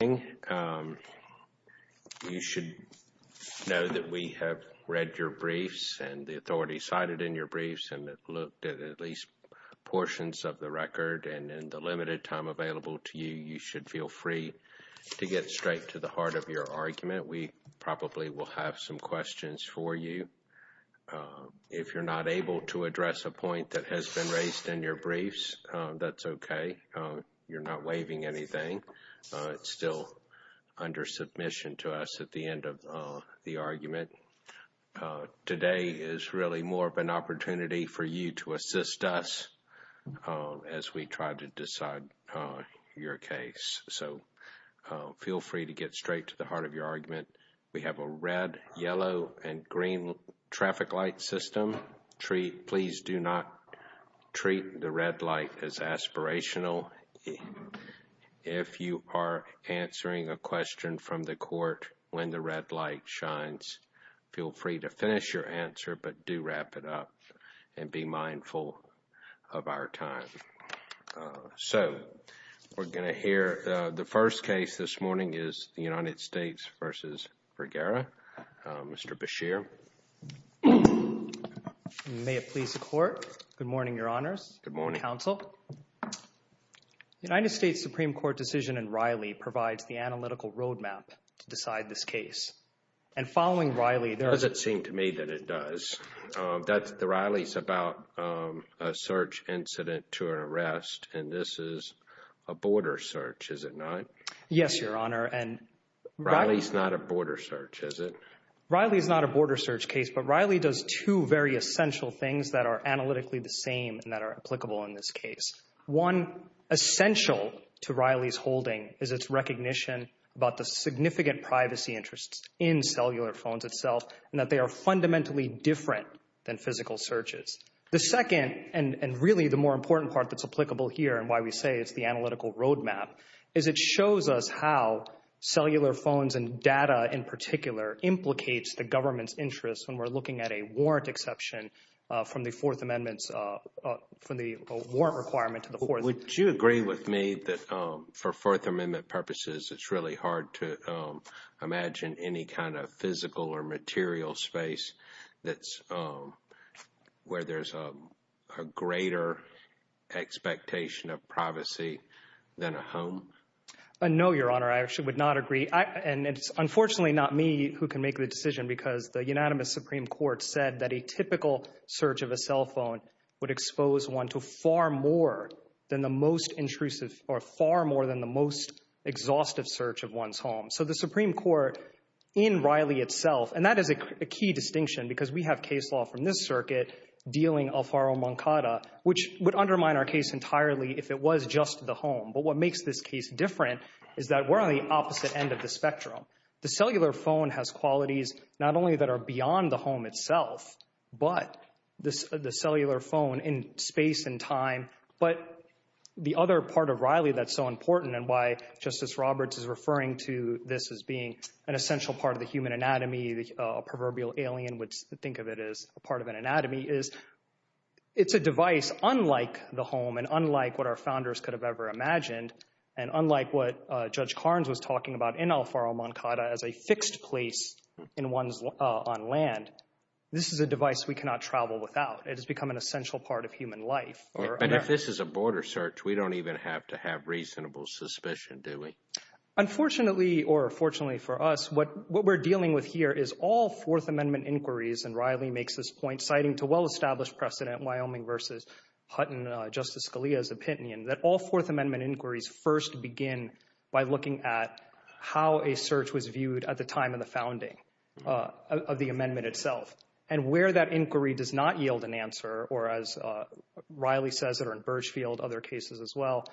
You should know that we have read your briefs and the authority cited in your briefs and looked at at least portions of the record and in the limited time available to you, you should feel free to get straight to the heart of your argument. We probably will have some questions for you. If you're not able to address a point that has been raised in your briefs, that's okay. You're not waiving anything. It's still under submission to us at the end of the argument. Today is really more of an opportunity for you to assist us as we try to decide your case. So feel free to get straight to the heart of your argument. We have a red, yellow, and green traffic light system. Please do not treat the red light as aspirational. If you are answering a question from the court when the red light shines, feel free to finish your answer, but do wrap it up and be mindful of our time. So we're going to hear the first case this morning is the United States v. Vergara. Mr. Beshear. May it please the court. Good morning, your honors. Good morning, counsel. The United States Supreme Court decision in Riley provides the analytical roadmap to decide this case. And following Riley, it doesn't seem to me that it does. Riley's about a search incident to an arrest, and this is a border search, is it not? Yes, your honor. Riley's not a border search, is it? Riley's not a border search case, but Riley does two very essential things that are analytically the same and that are applicable in this case. One essential to Riley's holding is its recognition about the significant privacy interests in cellular phones itself and that they are fundamentally different than physical searches. The second and really the more important part that's applicable here and why we say it's the analytical roadmap is it shows us how cellular phones and data in particular implicates the government's interests when we're looking at a warrant exception from the Fourth Amendment's, from the warrant requirement to the fourth. Would you agree with me that for Fourth Amendment purposes, it's really hard to that's where there's a greater expectation of privacy than a home? No, your honor. I actually would not agree. And it's unfortunately not me who can make the decision because the unanimous Supreme Court said that a typical search of a cell phone would expose one to far more than the most intrusive or far more than the most exhaustive search of one's home. So the Supreme Court in Riley itself, and that is a key distinction because we have case law from this circuit dealing alfaro-moncada, which would undermine our case entirely if it was just the home. But what makes this case different is that we're on the opposite end of the spectrum. The cellular phone has qualities not only that are beyond the home itself, but the cellular phone in space and time. But the other part of Riley that's so important and why Justice Roberts is this as being an essential part of the human anatomy, a proverbial alien would think of it as a part of an anatomy, is it's a device unlike the home and unlike what our founders could have ever imagined and unlike what Judge Karnes was talking about in alfaro-moncada as a fixed place in one's on land. This is a device we cannot travel without. It has become an essential part of human life. And if this is a border search, we don't even have to have reasonable suspicion, do we? Unfortunately, or fortunately for us, what we're dealing with here is all Fourth Amendment inquiries, and Riley makes this point, citing to well-established precedent Wyoming v. Hutton, Justice Scalia's opinion, that all Fourth Amendment inquiries first begin by looking at how a search was viewed at the time of the founding of the amendment itself and where that inquiry does not yield an answer, or as Riley says it, or in Birchfield, other cases as well,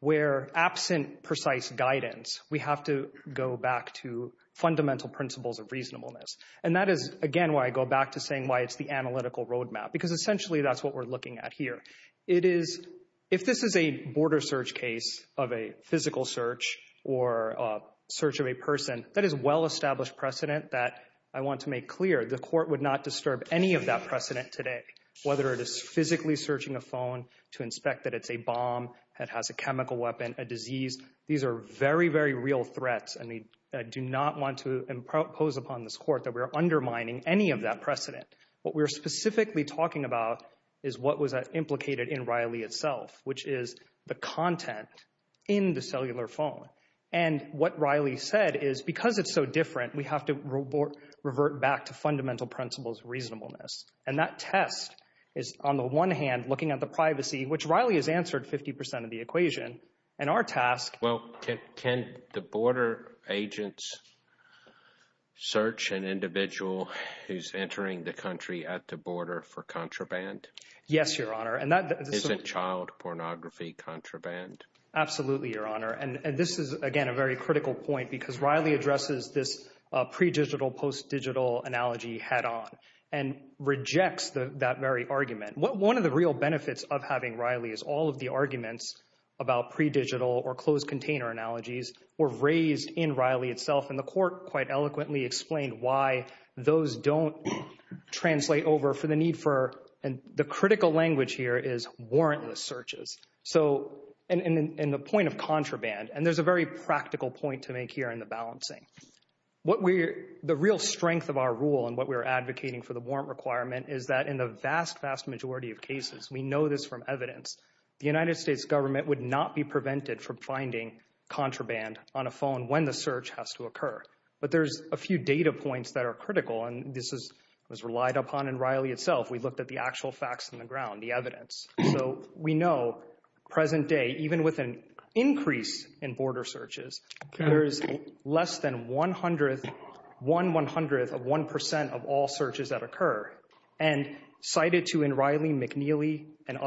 where absent precise guidance, we have to go back to fundamental principles of reasonableness. And that is, again, why I go back to saying why it's the analytical roadmap, because essentially that's what we're looking at here. If this is a border search case of a physical search or a search of a person, that is well-established precedent that I want to make clear. The court would not disturb any of that precedent today, whether it is physically searching a phone to inspect that it's a bomb, that has a chemical weapon, a disease. These are very, very real threats, and we do not want to impose upon this court that we're undermining any of that precedent. What we're specifically talking about is what was implicated in Riley itself, which is the content in the cellular phone. And what Riley said is because it's so different, we have to revert back to fundamental principles of reasonableness. And that test is, on the one hand, looking at the privacy, which Riley has answered 50% of the equation, and our task... Well, can the border agents search an individual who's entering the country at the border for contraband? Yes, Your Honor, and that... Isn't child pornography contraband? Absolutely, Your Honor. And this is, again, a very critical point because Riley addresses this pre-digital, post-digital analogy head-on and rejects that very argument. One of the real benefits of having Riley is all of the arguments about pre-digital or closed container analogies were raised in Riley itself, and the court quite eloquently explained why those don't translate over for the need for... And the critical language here is warrantless searches, and the point of the real strength of our rule and what we're advocating for the warrant requirement is that in the vast, vast majority of cases, we know this from evidence, the United States government would not be prevented from finding contraband on a phone when the search has to occur. But there's a few data points that are critical, and this was relied upon in Riley itself. We looked at the actual facts on the ground, the evidence. So we know, present day, even with an increase in border searches, there is less than one-hundredth, one-one-hundredth of one percent of all searches that occur. And cited to in Riley, McNeely, and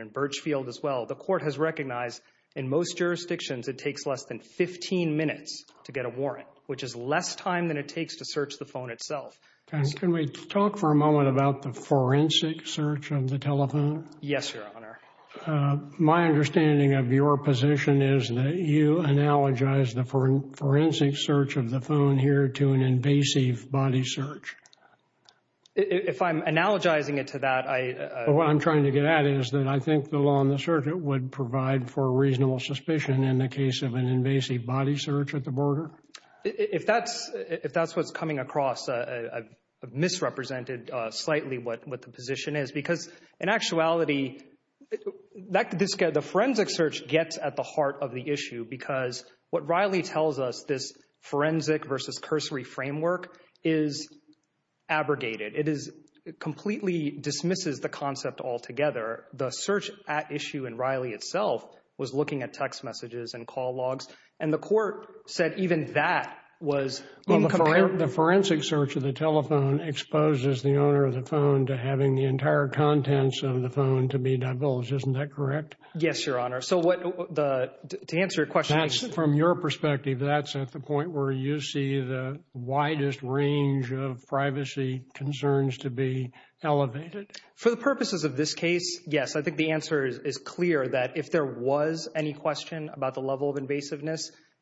in Birchfield as well, the court has recognized in most jurisdictions, it takes less than 15 minutes to get a warrant, which is less time than it takes to search the phone itself. Can we talk for a moment about the forensic search of the telephone? Yes, Your Honor. My understanding of your position is that you analogize the forensic search of the phone here to an invasive body search. If I'm analogizing it to that, I... Well, what I'm trying to get at is that I think the law on the search, it would provide for reasonable suspicion in the case of an invasive body search at the border. If that's what's coming across, I've misrepresented slightly what the position is, because in actuality, the forensic search gets at the heart of the issue, because what Riley tells us, this forensic versus cursory framework is abrogated. It completely dismisses the concept altogether. The search at issue in Riley itself was looking at text messages and call logs, and the court said even that was... Well, the forensic search of the telephone exposes the owner of the phone to having the entire contents of the phone to be divulged. Isn't that correct? Yes, Your Honor. So to answer your question... That's from your perspective, that's at the point where you see the widest range of privacy concerns to be elevated? For the purposes of this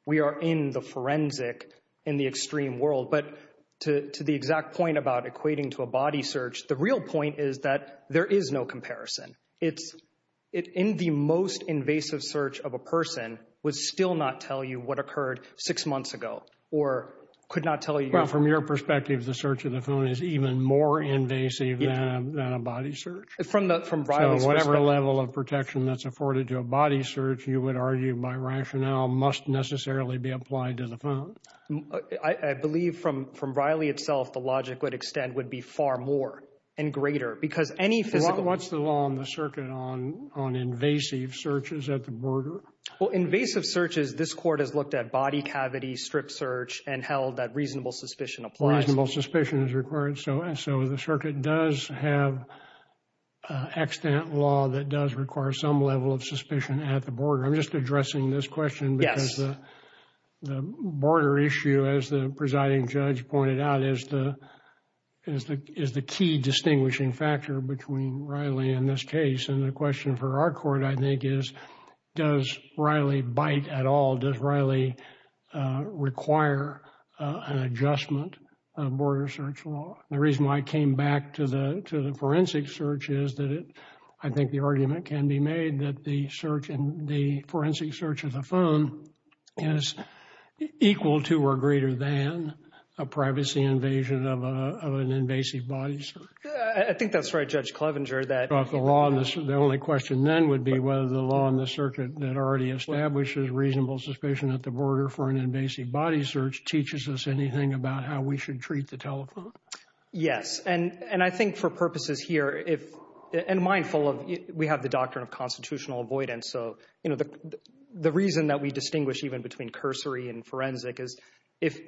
we are in the forensic, in the extreme world. But to the exact point about equating to a body search, the real point is that there is no comparison. It's in the most invasive search of a person would still not tell you what occurred six months ago, or could not tell you... Well, from your perspective, the search of the phone is even more invasive than a body search. From Riley's perspective. So whatever level of protection that's afforded to a body search, you would argue by rationale, must necessarily be applied to the phone? I believe from Riley itself, the logic would extend would be far more and greater because any physical... What's the law on the circuit on invasive searches at the border? Well, invasive searches, this court has looked at body cavity, strip search, and held that reasonable suspicion applies. Reasonable suspicion is required, so the circuit does have extant law that does require some level of suspicion at the border. I'm just addressing this question because the border issue, as the presiding judge pointed out, is the key distinguishing factor between Riley and this case. And the question for our court, I think, is does Riley bite at all? Does Riley require an adjustment of border search law? The reason why I came back to the forensic search is that I think the argument can be made that the search and the forensic search of the phone is equal to or greater than a privacy invasion of an invasive body search. I think that's right, Judge Clevenger. The only question then would be whether the law on the circuit that already establishes reasonable suspicion at the border for an invasive body search teaches us anything about how we should treat the telephone. Yes, and I think for purposes here, if... And mindful of... We have the doctrine of constitutional avoidance, so, you know, the reason that we distinguish even between cursory and forensic is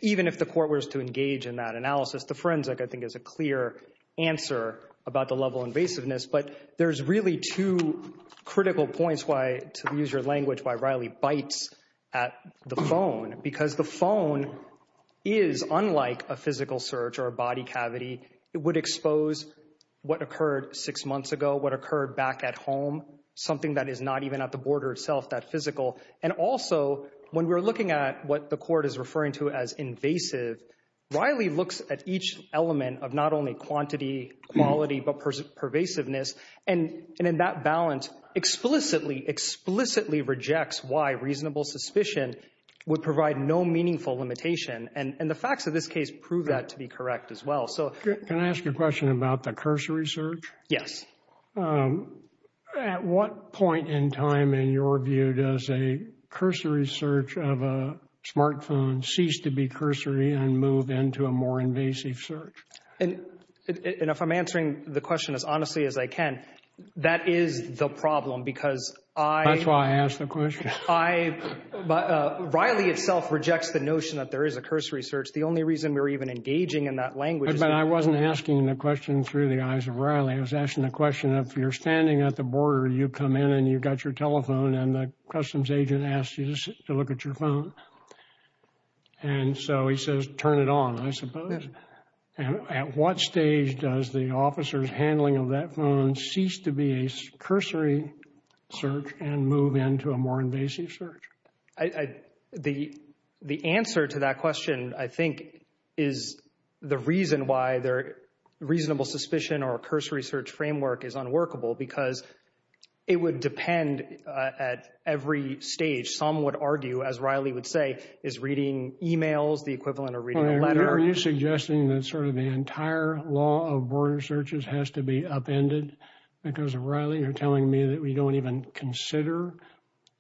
even if the court were to engage in that analysis, the forensic, I think, is a clear answer about the level of invasiveness. But there's really two critical points why, to use your language, why Riley bites at the phone. Because the phone is, unlike a physical search or a body cavity, it would expose what occurred six months ago, what occurred back at home, something that is not even at the border itself that physical. And also, when we're looking at what the court is referring to as invasive, Riley looks at each element of not only quantity, quality, but pervasiveness. And in that balance, explicitly, explicitly rejects why reasonable suspicion would provide no meaningful limitation. And the facts of this case prove that to be correct as well. So... Can I ask you a question about the cursory search? Yes. At what point in time, in your view, does a cursory search of a smartphone cease to be cursory and move into a more invasive search? And if I'm answering the question as honestly as I can, that is the problem because I... That's why I asked the question. I... Riley itself rejects the notion that there is a cursory search. The only reason we're even engaging in that language... I wasn't asking the question through the eyes of Riley. I was asking the question, if you're standing at the border, you come in and you've got your telephone and the customs agent asks you to look at your phone. And so he says, turn it on, I suppose. And at what stage does the officer's handling of that phone cease to be a cursory search and move into a more invasive search? I... The answer to that question, I think, is the reason why their reasonable suspicion or a cursory search framework is unworkable because it would depend at every stage. Some would argue, as Riley would say, is reading emails the equivalent of reading a letter? Are you suggesting that sort of the entire law of border searches has to be upended because of Riley? You're telling me we don't even consider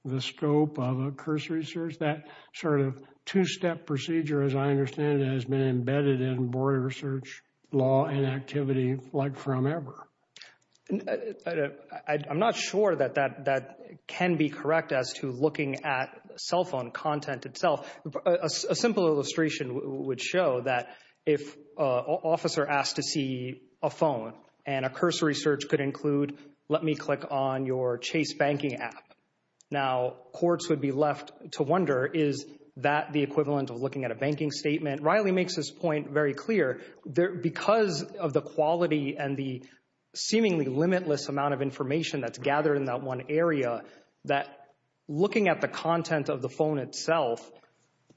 the scope of a cursory search? That sort of two-step procedure, as I understand it, has been embedded in border search law and activity like from ever. I'm not sure that that can be correct as to looking at cell phone content itself. A simple illustration would show that if an officer asked to see a phone and a cursory search could include, let me click on your Chase banking app. Now, courts would be left to wonder, is that the equivalent of looking at a banking statement? Riley makes this point very clear. Because of the quality and the seemingly limitless amount of information that's gathered in that one area, that looking at the content of the phone itself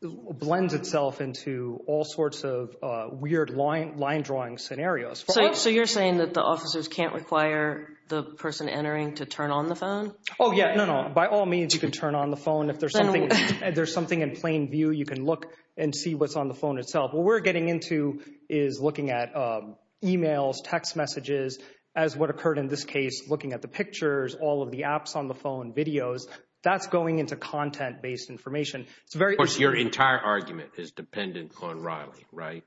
blends itself into all sorts of weird line drawing scenarios. So you're saying that the officers can't require the person entering to turn on the phone? Oh yeah, no, no. By all means, you can turn on the phone. If there's something, there's something in plain view, you can look and see what's on the phone itself. What we're getting into is looking at emails, text messages, as what occurred in this case, looking at the pictures, all of the apps on the phone, videos. That's going into content-based information. Your entire argument is dependent on Riley, right?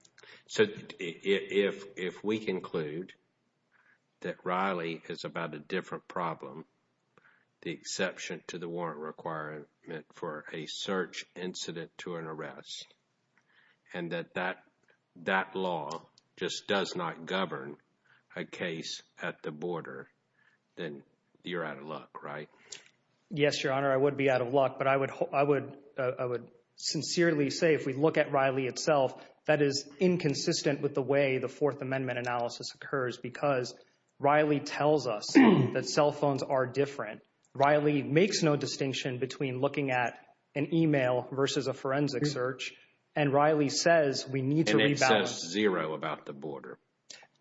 So if we conclude that Riley is about a different problem, the exception to the warrant requirement for a search incident to an arrest, and that that law just does not govern a case at the border, then you're out of luck, right? Yes, Your Honor, I would be out of luck, but I would sincerely say if we look at Riley itself, that is inconsistent with the way the Fourth Amendment analysis occurs because Riley tells us that cell phones are different. Riley makes no distinction between looking at an email versus a forensic search, and Riley says we need to rebalance. And it says zero about the border.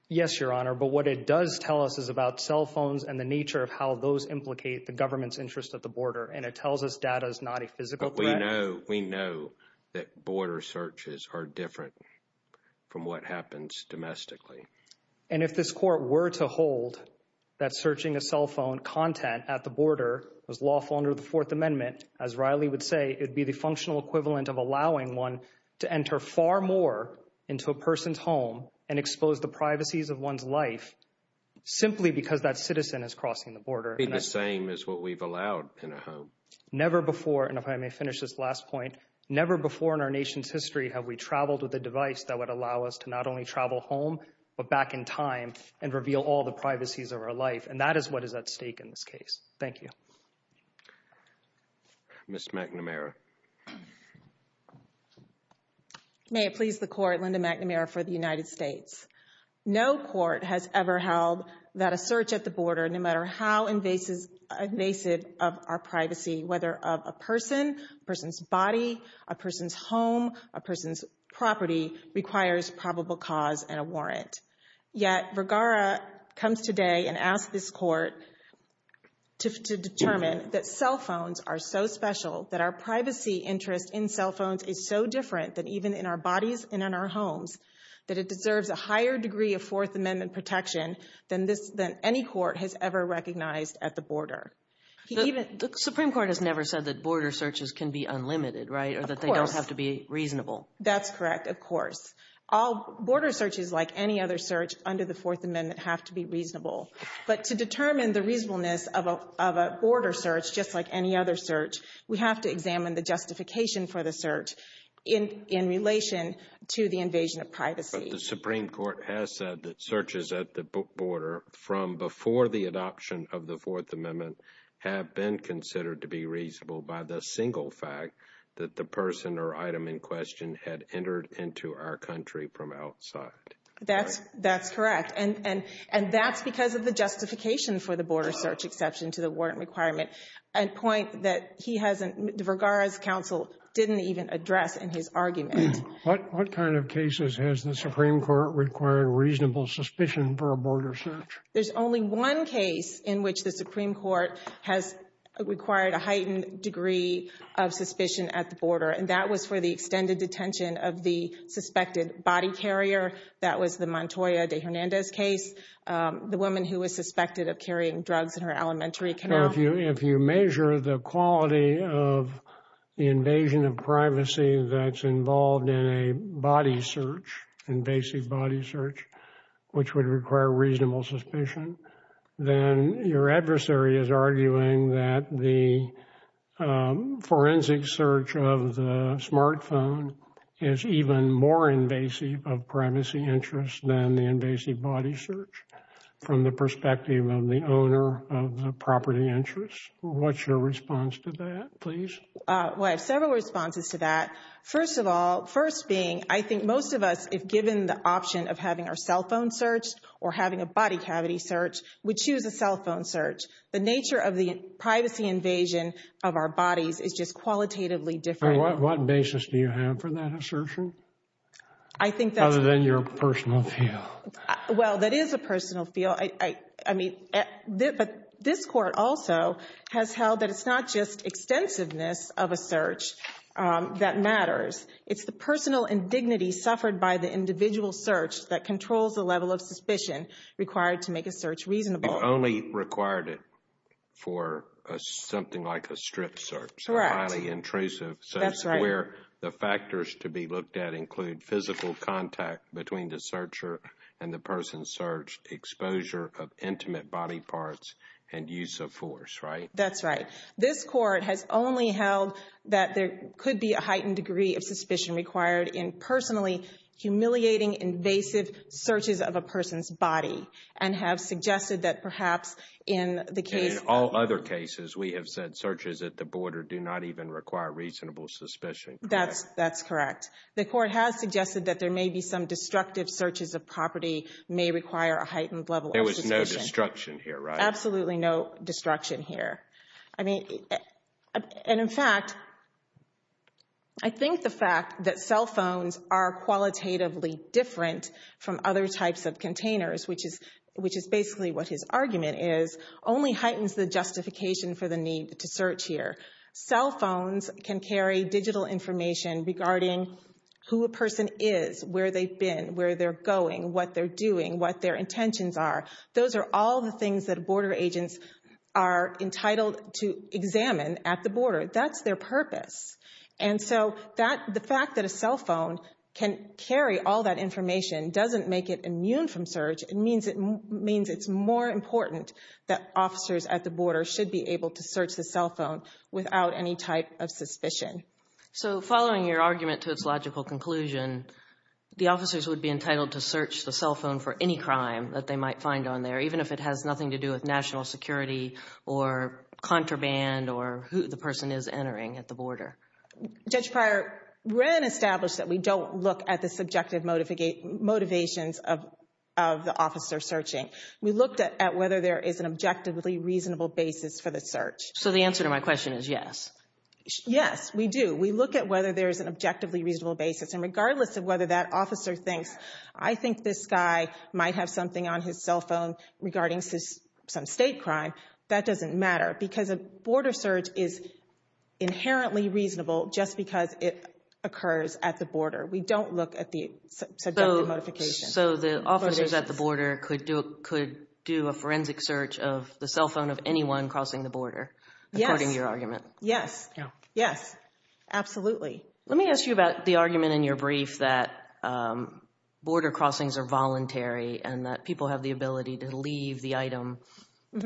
Yes, Your Honor, but what it does tell us is about cell phones and the nature of how those implicate the government's interest at the border, and it tells us data is not a physical threat. We know that border searches are different from what happens domestically. And if this court were to hold that searching a cell phone content at the border was lawful under the Fourth Amendment, as Riley would say, it would be the functional equivalent of allowing one to enter far more into a person's home and expose the privacies of one's life simply because that citizen is crossing the border. It would be the same as what we've allowed in a home. Never before, and if I may finish this last point, never before in our nation's history have we traveled with a device that would allow us to not only travel home, but back in time and reveal all the privacies of our life. And that is what is at stake in this case. Thank you. Ms. McNamara. May it please the Court, Linda McNamara for the United States. No court has ever held that a search at the border, no matter how invasive of our privacy, whether of a person, a person's body, a person's home, a person's property, requires probable cause and a warrant. Yet Vergara comes today and asks this court to determine that cell phones are so special that our privacy interest in cell phones is so different than even in our bodies and in our homes, that it deserves a higher degree of Fourth Amendment protection than any court has ever recognized at the border. The Supreme Court has never said that border searches can be unlimited, right? Or that they don't have to be reasonable. That's correct, of course. Border searches, like any other search under the Fourth Amendment, have to be reasonable. But to determine the reasonableness of a border search, just like any other search, we have to examine the justification for the search in relation to the invasion of privacy. But the Supreme Court has said that searches at the border from before the adoption of the Fourth Amendment have been considered to be reasonable by the single fact that the person or item in question had entered into our country from outside. That's correct. And that's because of the justification for the border search exception to the warrant requirement. A point that he hasn't, Vergara's counsel, didn't even address in his argument. What kind of cases has the Supreme Court required reasonable suspicion for a border search? There's only one case in which the Supreme Court has required a heightened degree of suspicion at the border, and that was for the extended detention of the suspected body carrier. That was the Montoya de Hernandez case. The woman who was suspected of carrying drugs in her elementary canal. If you measure the quality of the invasion of privacy that's involved in a body search, invasive body search, which would require reasonable suspicion, then your adversary is arguing that the forensic search of the smartphone is even more invasive of privacy interests than the invasive body search from the perspective of the owner of the property interest. What's your response to that, please? Well, I have several responses to that. First of all, first being, I think most of us, if given the option of having our cell phone search or having a body cavity search, would choose a cell phone search. The nature of the privacy invasion of our bodies is just qualitatively different. What basis do you have for that assertion? I think that's... Other than your personal view. Well, that is a personal feel. But this court also has held that it's not just extensiveness of a search that matters. It's the personal indignity suffered by the individual search that controls the level of suspicion required to make a search reasonable. You only required it for something like a strip search. Correct. Highly intrusive. That's right. The factors to be looked at include physical contact between the searcher and the person searched, exposure of intimate body parts, and use of force, right? That's right. This court has only held that there could be a heightened degree of suspicion required in personally humiliating invasive searches of a person's body and have suggested that perhaps in the case... In all other cases, we have said searches at the border do not even require reasonable suspicion, correct? That's correct. The court has suggested that there may be some destructive searches of property may require a heightened level of suspicion. There was no destruction here, right? Absolutely no destruction here. And in fact, I think the fact that cell phones are qualitatively different from other types of containers, which is basically what his argument is, only heightens the justification for the need to search here. Cell phones can carry digital information regarding who a person is, where they've been, where they're going, what they're doing, what their intentions are. Those are all the things that border agents are entitled to examine at the border. That's their purpose. And so the fact that a cell phone can carry all that information doesn't make it immune from search. It means it's more important that officers at the border should be able to search the without any type of suspicion. So following your argument to its logical conclusion, the officers would be entitled to search the cell phone for any crime that they might find on there, even if it has nothing to do with national security or contraband or who the person is entering at the border. Judge Pryor, Wren established that we don't look at the subjective motivations of the officer searching. We looked at whether there is an objectively reasonable basis for the search. So the answer to my question is yes. Yes, we do. We look at whether there is an objectively reasonable basis. And regardless of whether that officer thinks, I think this guy might have something on his cell phone regarding some state crime, that doesn't matter because a border search is inherently reasonable just because it occurs at the border. We don't look at the subjective modifications. So the officers at the border could do a forensic search of the cell phone of anyone crossing the border, according to your argument. Yes, yes, absolutely. Let me ask you about the argument in your brief that border crossings are voluntary and that people have the ability to leave the item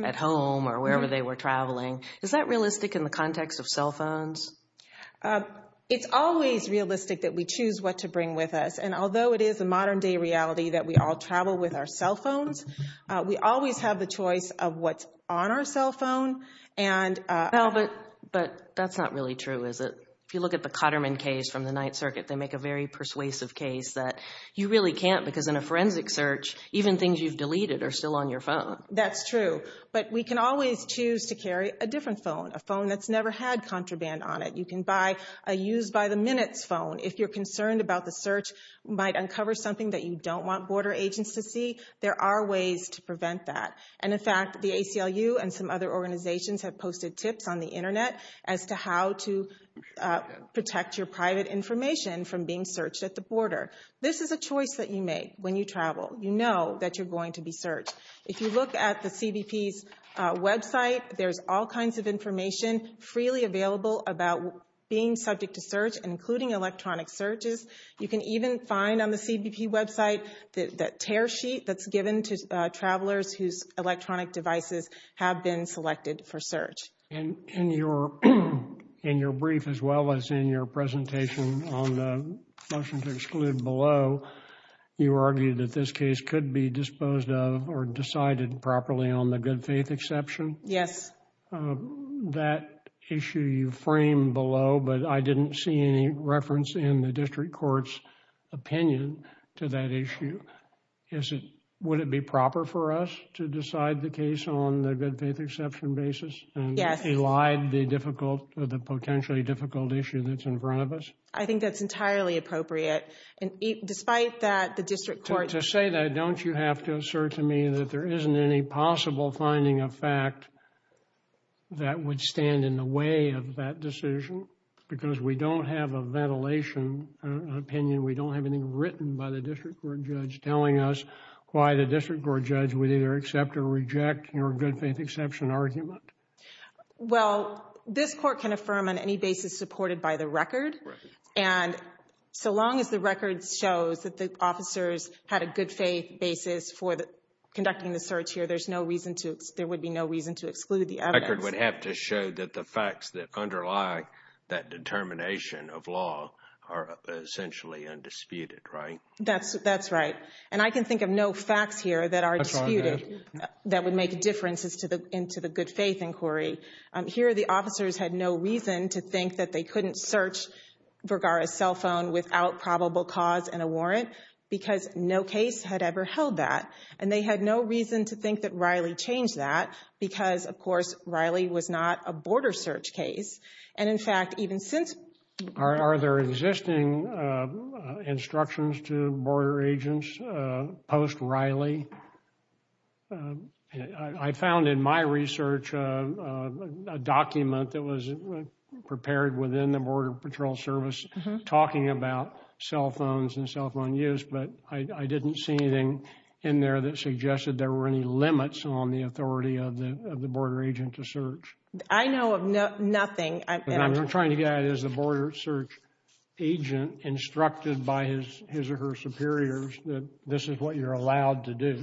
at home or wherever they were traveling. Is that realistic in the context of cell phones? It's always realistic that we choose what to bring with us. And although it is a modern day reality that we all travel with our cell phones, we always have the choice of what's on our cell phone. But that's not really true, is it? If you look at the Cotterman case from the Ninth Circuit, they make a very persuasive case that you really can't because in a forensic search, even things you've deleted are still on your phone. That's true. But we can always choose to carry a different phone, a phone that's never had contraband on it. You can buy a used by the minutes phone. If you're concerned about the search might uncover something that you don't want border agents to see, there are ways to prevent that. And in fact, the ACLU and some other organizations have posted tips on the Internet as to how to protect your private information from being searched at the border. This is a choice that you make when you travel. You know that you're going to be searched. If you look at the CBP's website, there's all kinds of information freely available about being subject to search, including electronic searches. You can even find on the CBP website that that tear sheet that's given to travelers whose electronic devices have been selected for search. And in your brief, as well as in your presentation on the motions excluded below, you argued that this case could be disposed of or decided properly on the good faith exception. Yes. That issue you frame below, but I didn't see any reference in the district court's opinion to that issue. Would it be proper for us to decide the case on the good faith exception basis? Yes. Elide the difficult, the potentially difficult issue that's in front of us? I think that's entirely appropriate. And despite that, the district court... To say that, don't you have to assert to me that there isn't any possible finding of fact that would stand in the way of that decision? Because we don't have a ventilation opinion. We don't have anything written by the district court judge telling us why the district court judge would either accept or reject your good faith exception argument. Well, this court can affirm on any basis supported by the record. And so long as the record shows that the officers had a good faith basis for conducting the case, there's no reason to exclude the evidence. The record would have to show that the facts that underlie that determination of law are essentially undisputed, right? That's right. And I can think of no facts here that are disputed that would make differences into the good faith inquiry. Here, the officers had no reason to think that they couldn't search Vergara's cell phone without probable cause and a warrant because no case had ever held that. And they had no reason to think that Riley changed that because, of course, Riley was not a border search case. And in fact, even since... Are there existing instructions to border agents post Riley? I found in my research a document that was prepared within the Border Patrol Service talking about cell phones and cell phone use. But I didn't see anything in there that suggested there were any limits on the authority of the border agent to search. I know of nothing. I'm trying to get it as a border search agent instructed by his or her superiors that this is what you're allowed to do.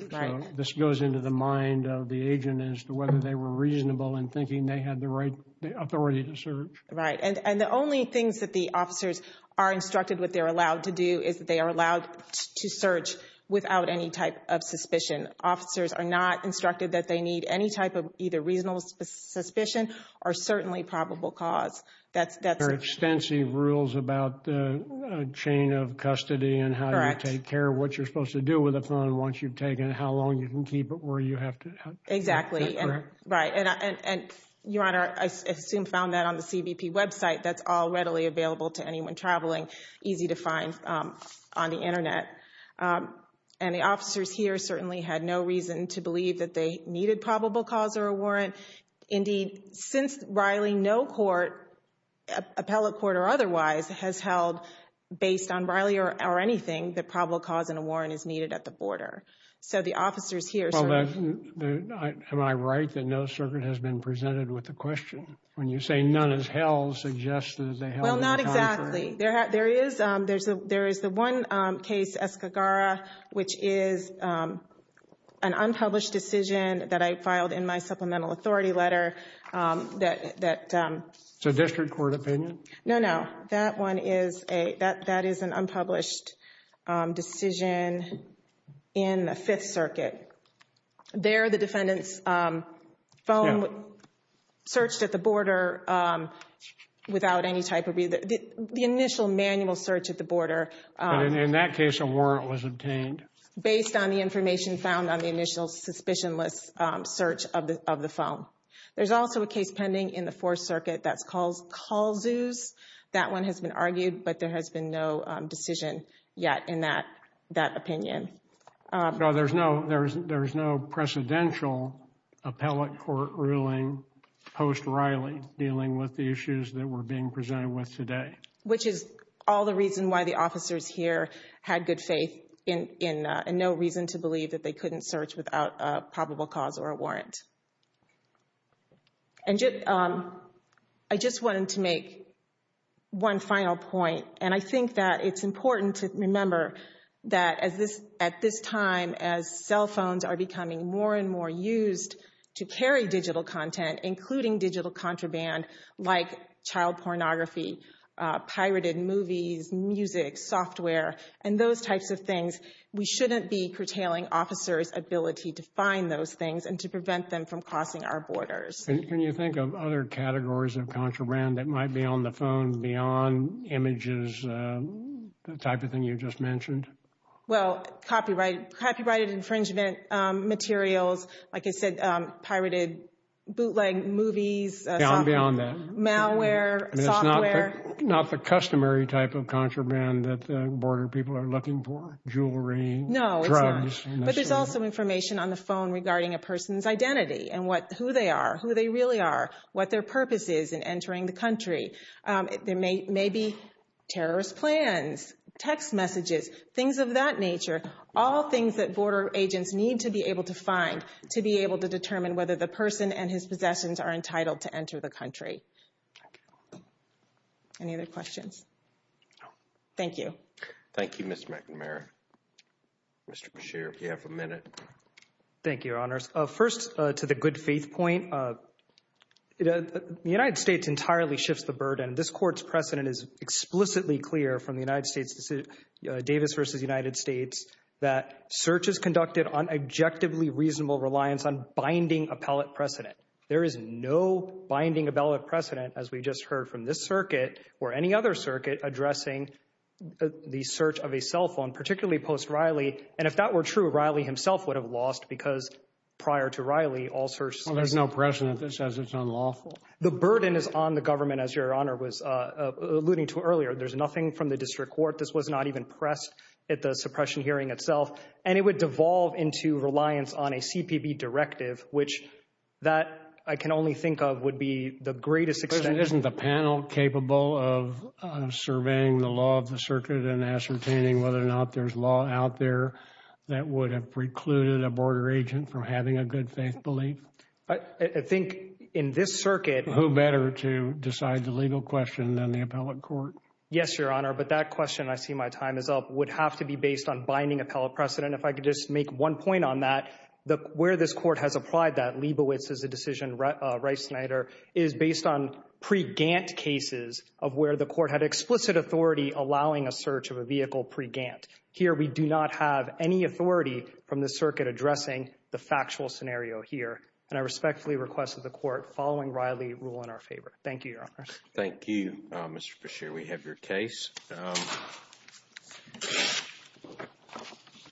This goes into the mind of the agent as to whether they were reasonable in thinking they had the right authority to search. Right. And the only things that the officers are instructed what they're allowed to do is that they are allowed to search without any type of suspicion. Officers are not instructed that they need any type of either reasonable suspicion or certainly probable cause. There are extensive rules about the chain of custody and how you take care of what you're supposed to do with a phone once you've taken it, how long you can keep it where you have to. Exactly. Right. And Your Honor, I assume found that on the CBP website. That's all readily available to anyone traveling. Easy to find on the Internet. And the officers here certainly had no reason to believe that they needed probable cause or a warrant. Indeed, since Riley, no court, appellate court or otherwise, has held based on Riley or anything that probable cause and a warrant is needed at the border. So the officers here. Well, am I right that no circuit has been presented with the question? When you say none as hell suggests that they have. Well, not exactly. There is, there is the one case, Escagara, which is an unpublished decision that I filed in my supplemental authority letter that. It's a district court opinion? No, no, that one is a, that is an unpublished decision in the Fifth Circuit. There, the defendant's phone searched at the border without any type of, the initial manual search at the border. In that case, a warrant was obtained. Based on the information found on the initial suspicionless search of the phone. There's also a case pending in the Fourth Circuit that's called Calzuz. That one has been argued, but there has been no decision yet in that, that opinion. No, there's no, there's, there's no precedential appellate court ruling post Riley dealing with the issues that we're being presented with today. Which is all the reason why the officers here had good faith in, in, and no reason to believe that they couldn't search without a probable cause or a warrant. And just, I just wanted to make one final point, and I think that it's important to at this time as cell phones are becoming more and more used to carry digital content, including digital contraband, like child pornography, pirated movies, music, software, and those types of things. We shouldn't be curtailing officers' ability to find those things and to prevent them from crossing our borders. Can you think of other categories of contraband that might be on the phone beyond images, the type of thing you just mentioned? Well, copyrighted, copyrighted infringement materials. Like I said, pirated bootleg movies. Beyond that. Malware, software. Not the customary type of contraband that the border people are looking for. Jewelry. No, it's not. But there's also information on the phone regarding a person's identity and what, who they are, who they really are, what their purpose is in entering the country. There may be terrorist plans, text messages, things of that nature. All things that border agents need to be able to find to be able to determine whether the person and his possessions are entitled to enter the country. Any other questions? Thank you. Thank you, Ms. McNamara. Mr. Beshear, if you have a minute. Thank you, Your Honors. First, to the good faith point. The United States entirely shifts the burden. This court's precedent is explicitly clear from the United States, Davis versus United States, that searches conducted on objectively reasonable reliance on binding appellate precedent. There is no binding appellate precedent, as we just heard from this circuit or any other circuit addressing the search of a cell phone, particularly post Riley. And if that were true, Riley himself would have lost because prior to Riley, all search. Well, there's no precedent that says it's unlawful. The burden is on the government, as Your Honor was alluding to earlier. There's nothing from the district court. This was not even pressed at the suppression hearing itself, and it would devolve into reliance on a CPB directive, which that I can only think of would be the greatest extent. Isn't the panel capable of surveying the law of the circuit and ascertaining whether or that would have precluded a border agent from having a good faith belief? I think in this circuit. Who better to decide the legal question than the appellate court? Yes, Your Honor. But that question, I see my time is up, would have to be based on binding appellate precedent. If I could just make one point on that, where this court has applied that Leibovitz as a decision, Rice Snyder, is based on pre-Gantt cases of where the court had explicit authority allowing a search of a vehicle pre-Gantt. Here, we do not have any authority from the circuit addressing the factual scenario here, and I respectfully request that the court following Riley rule in our favor. Thank you, Your Honor. Thank you, Mr. Bashir. We have your case.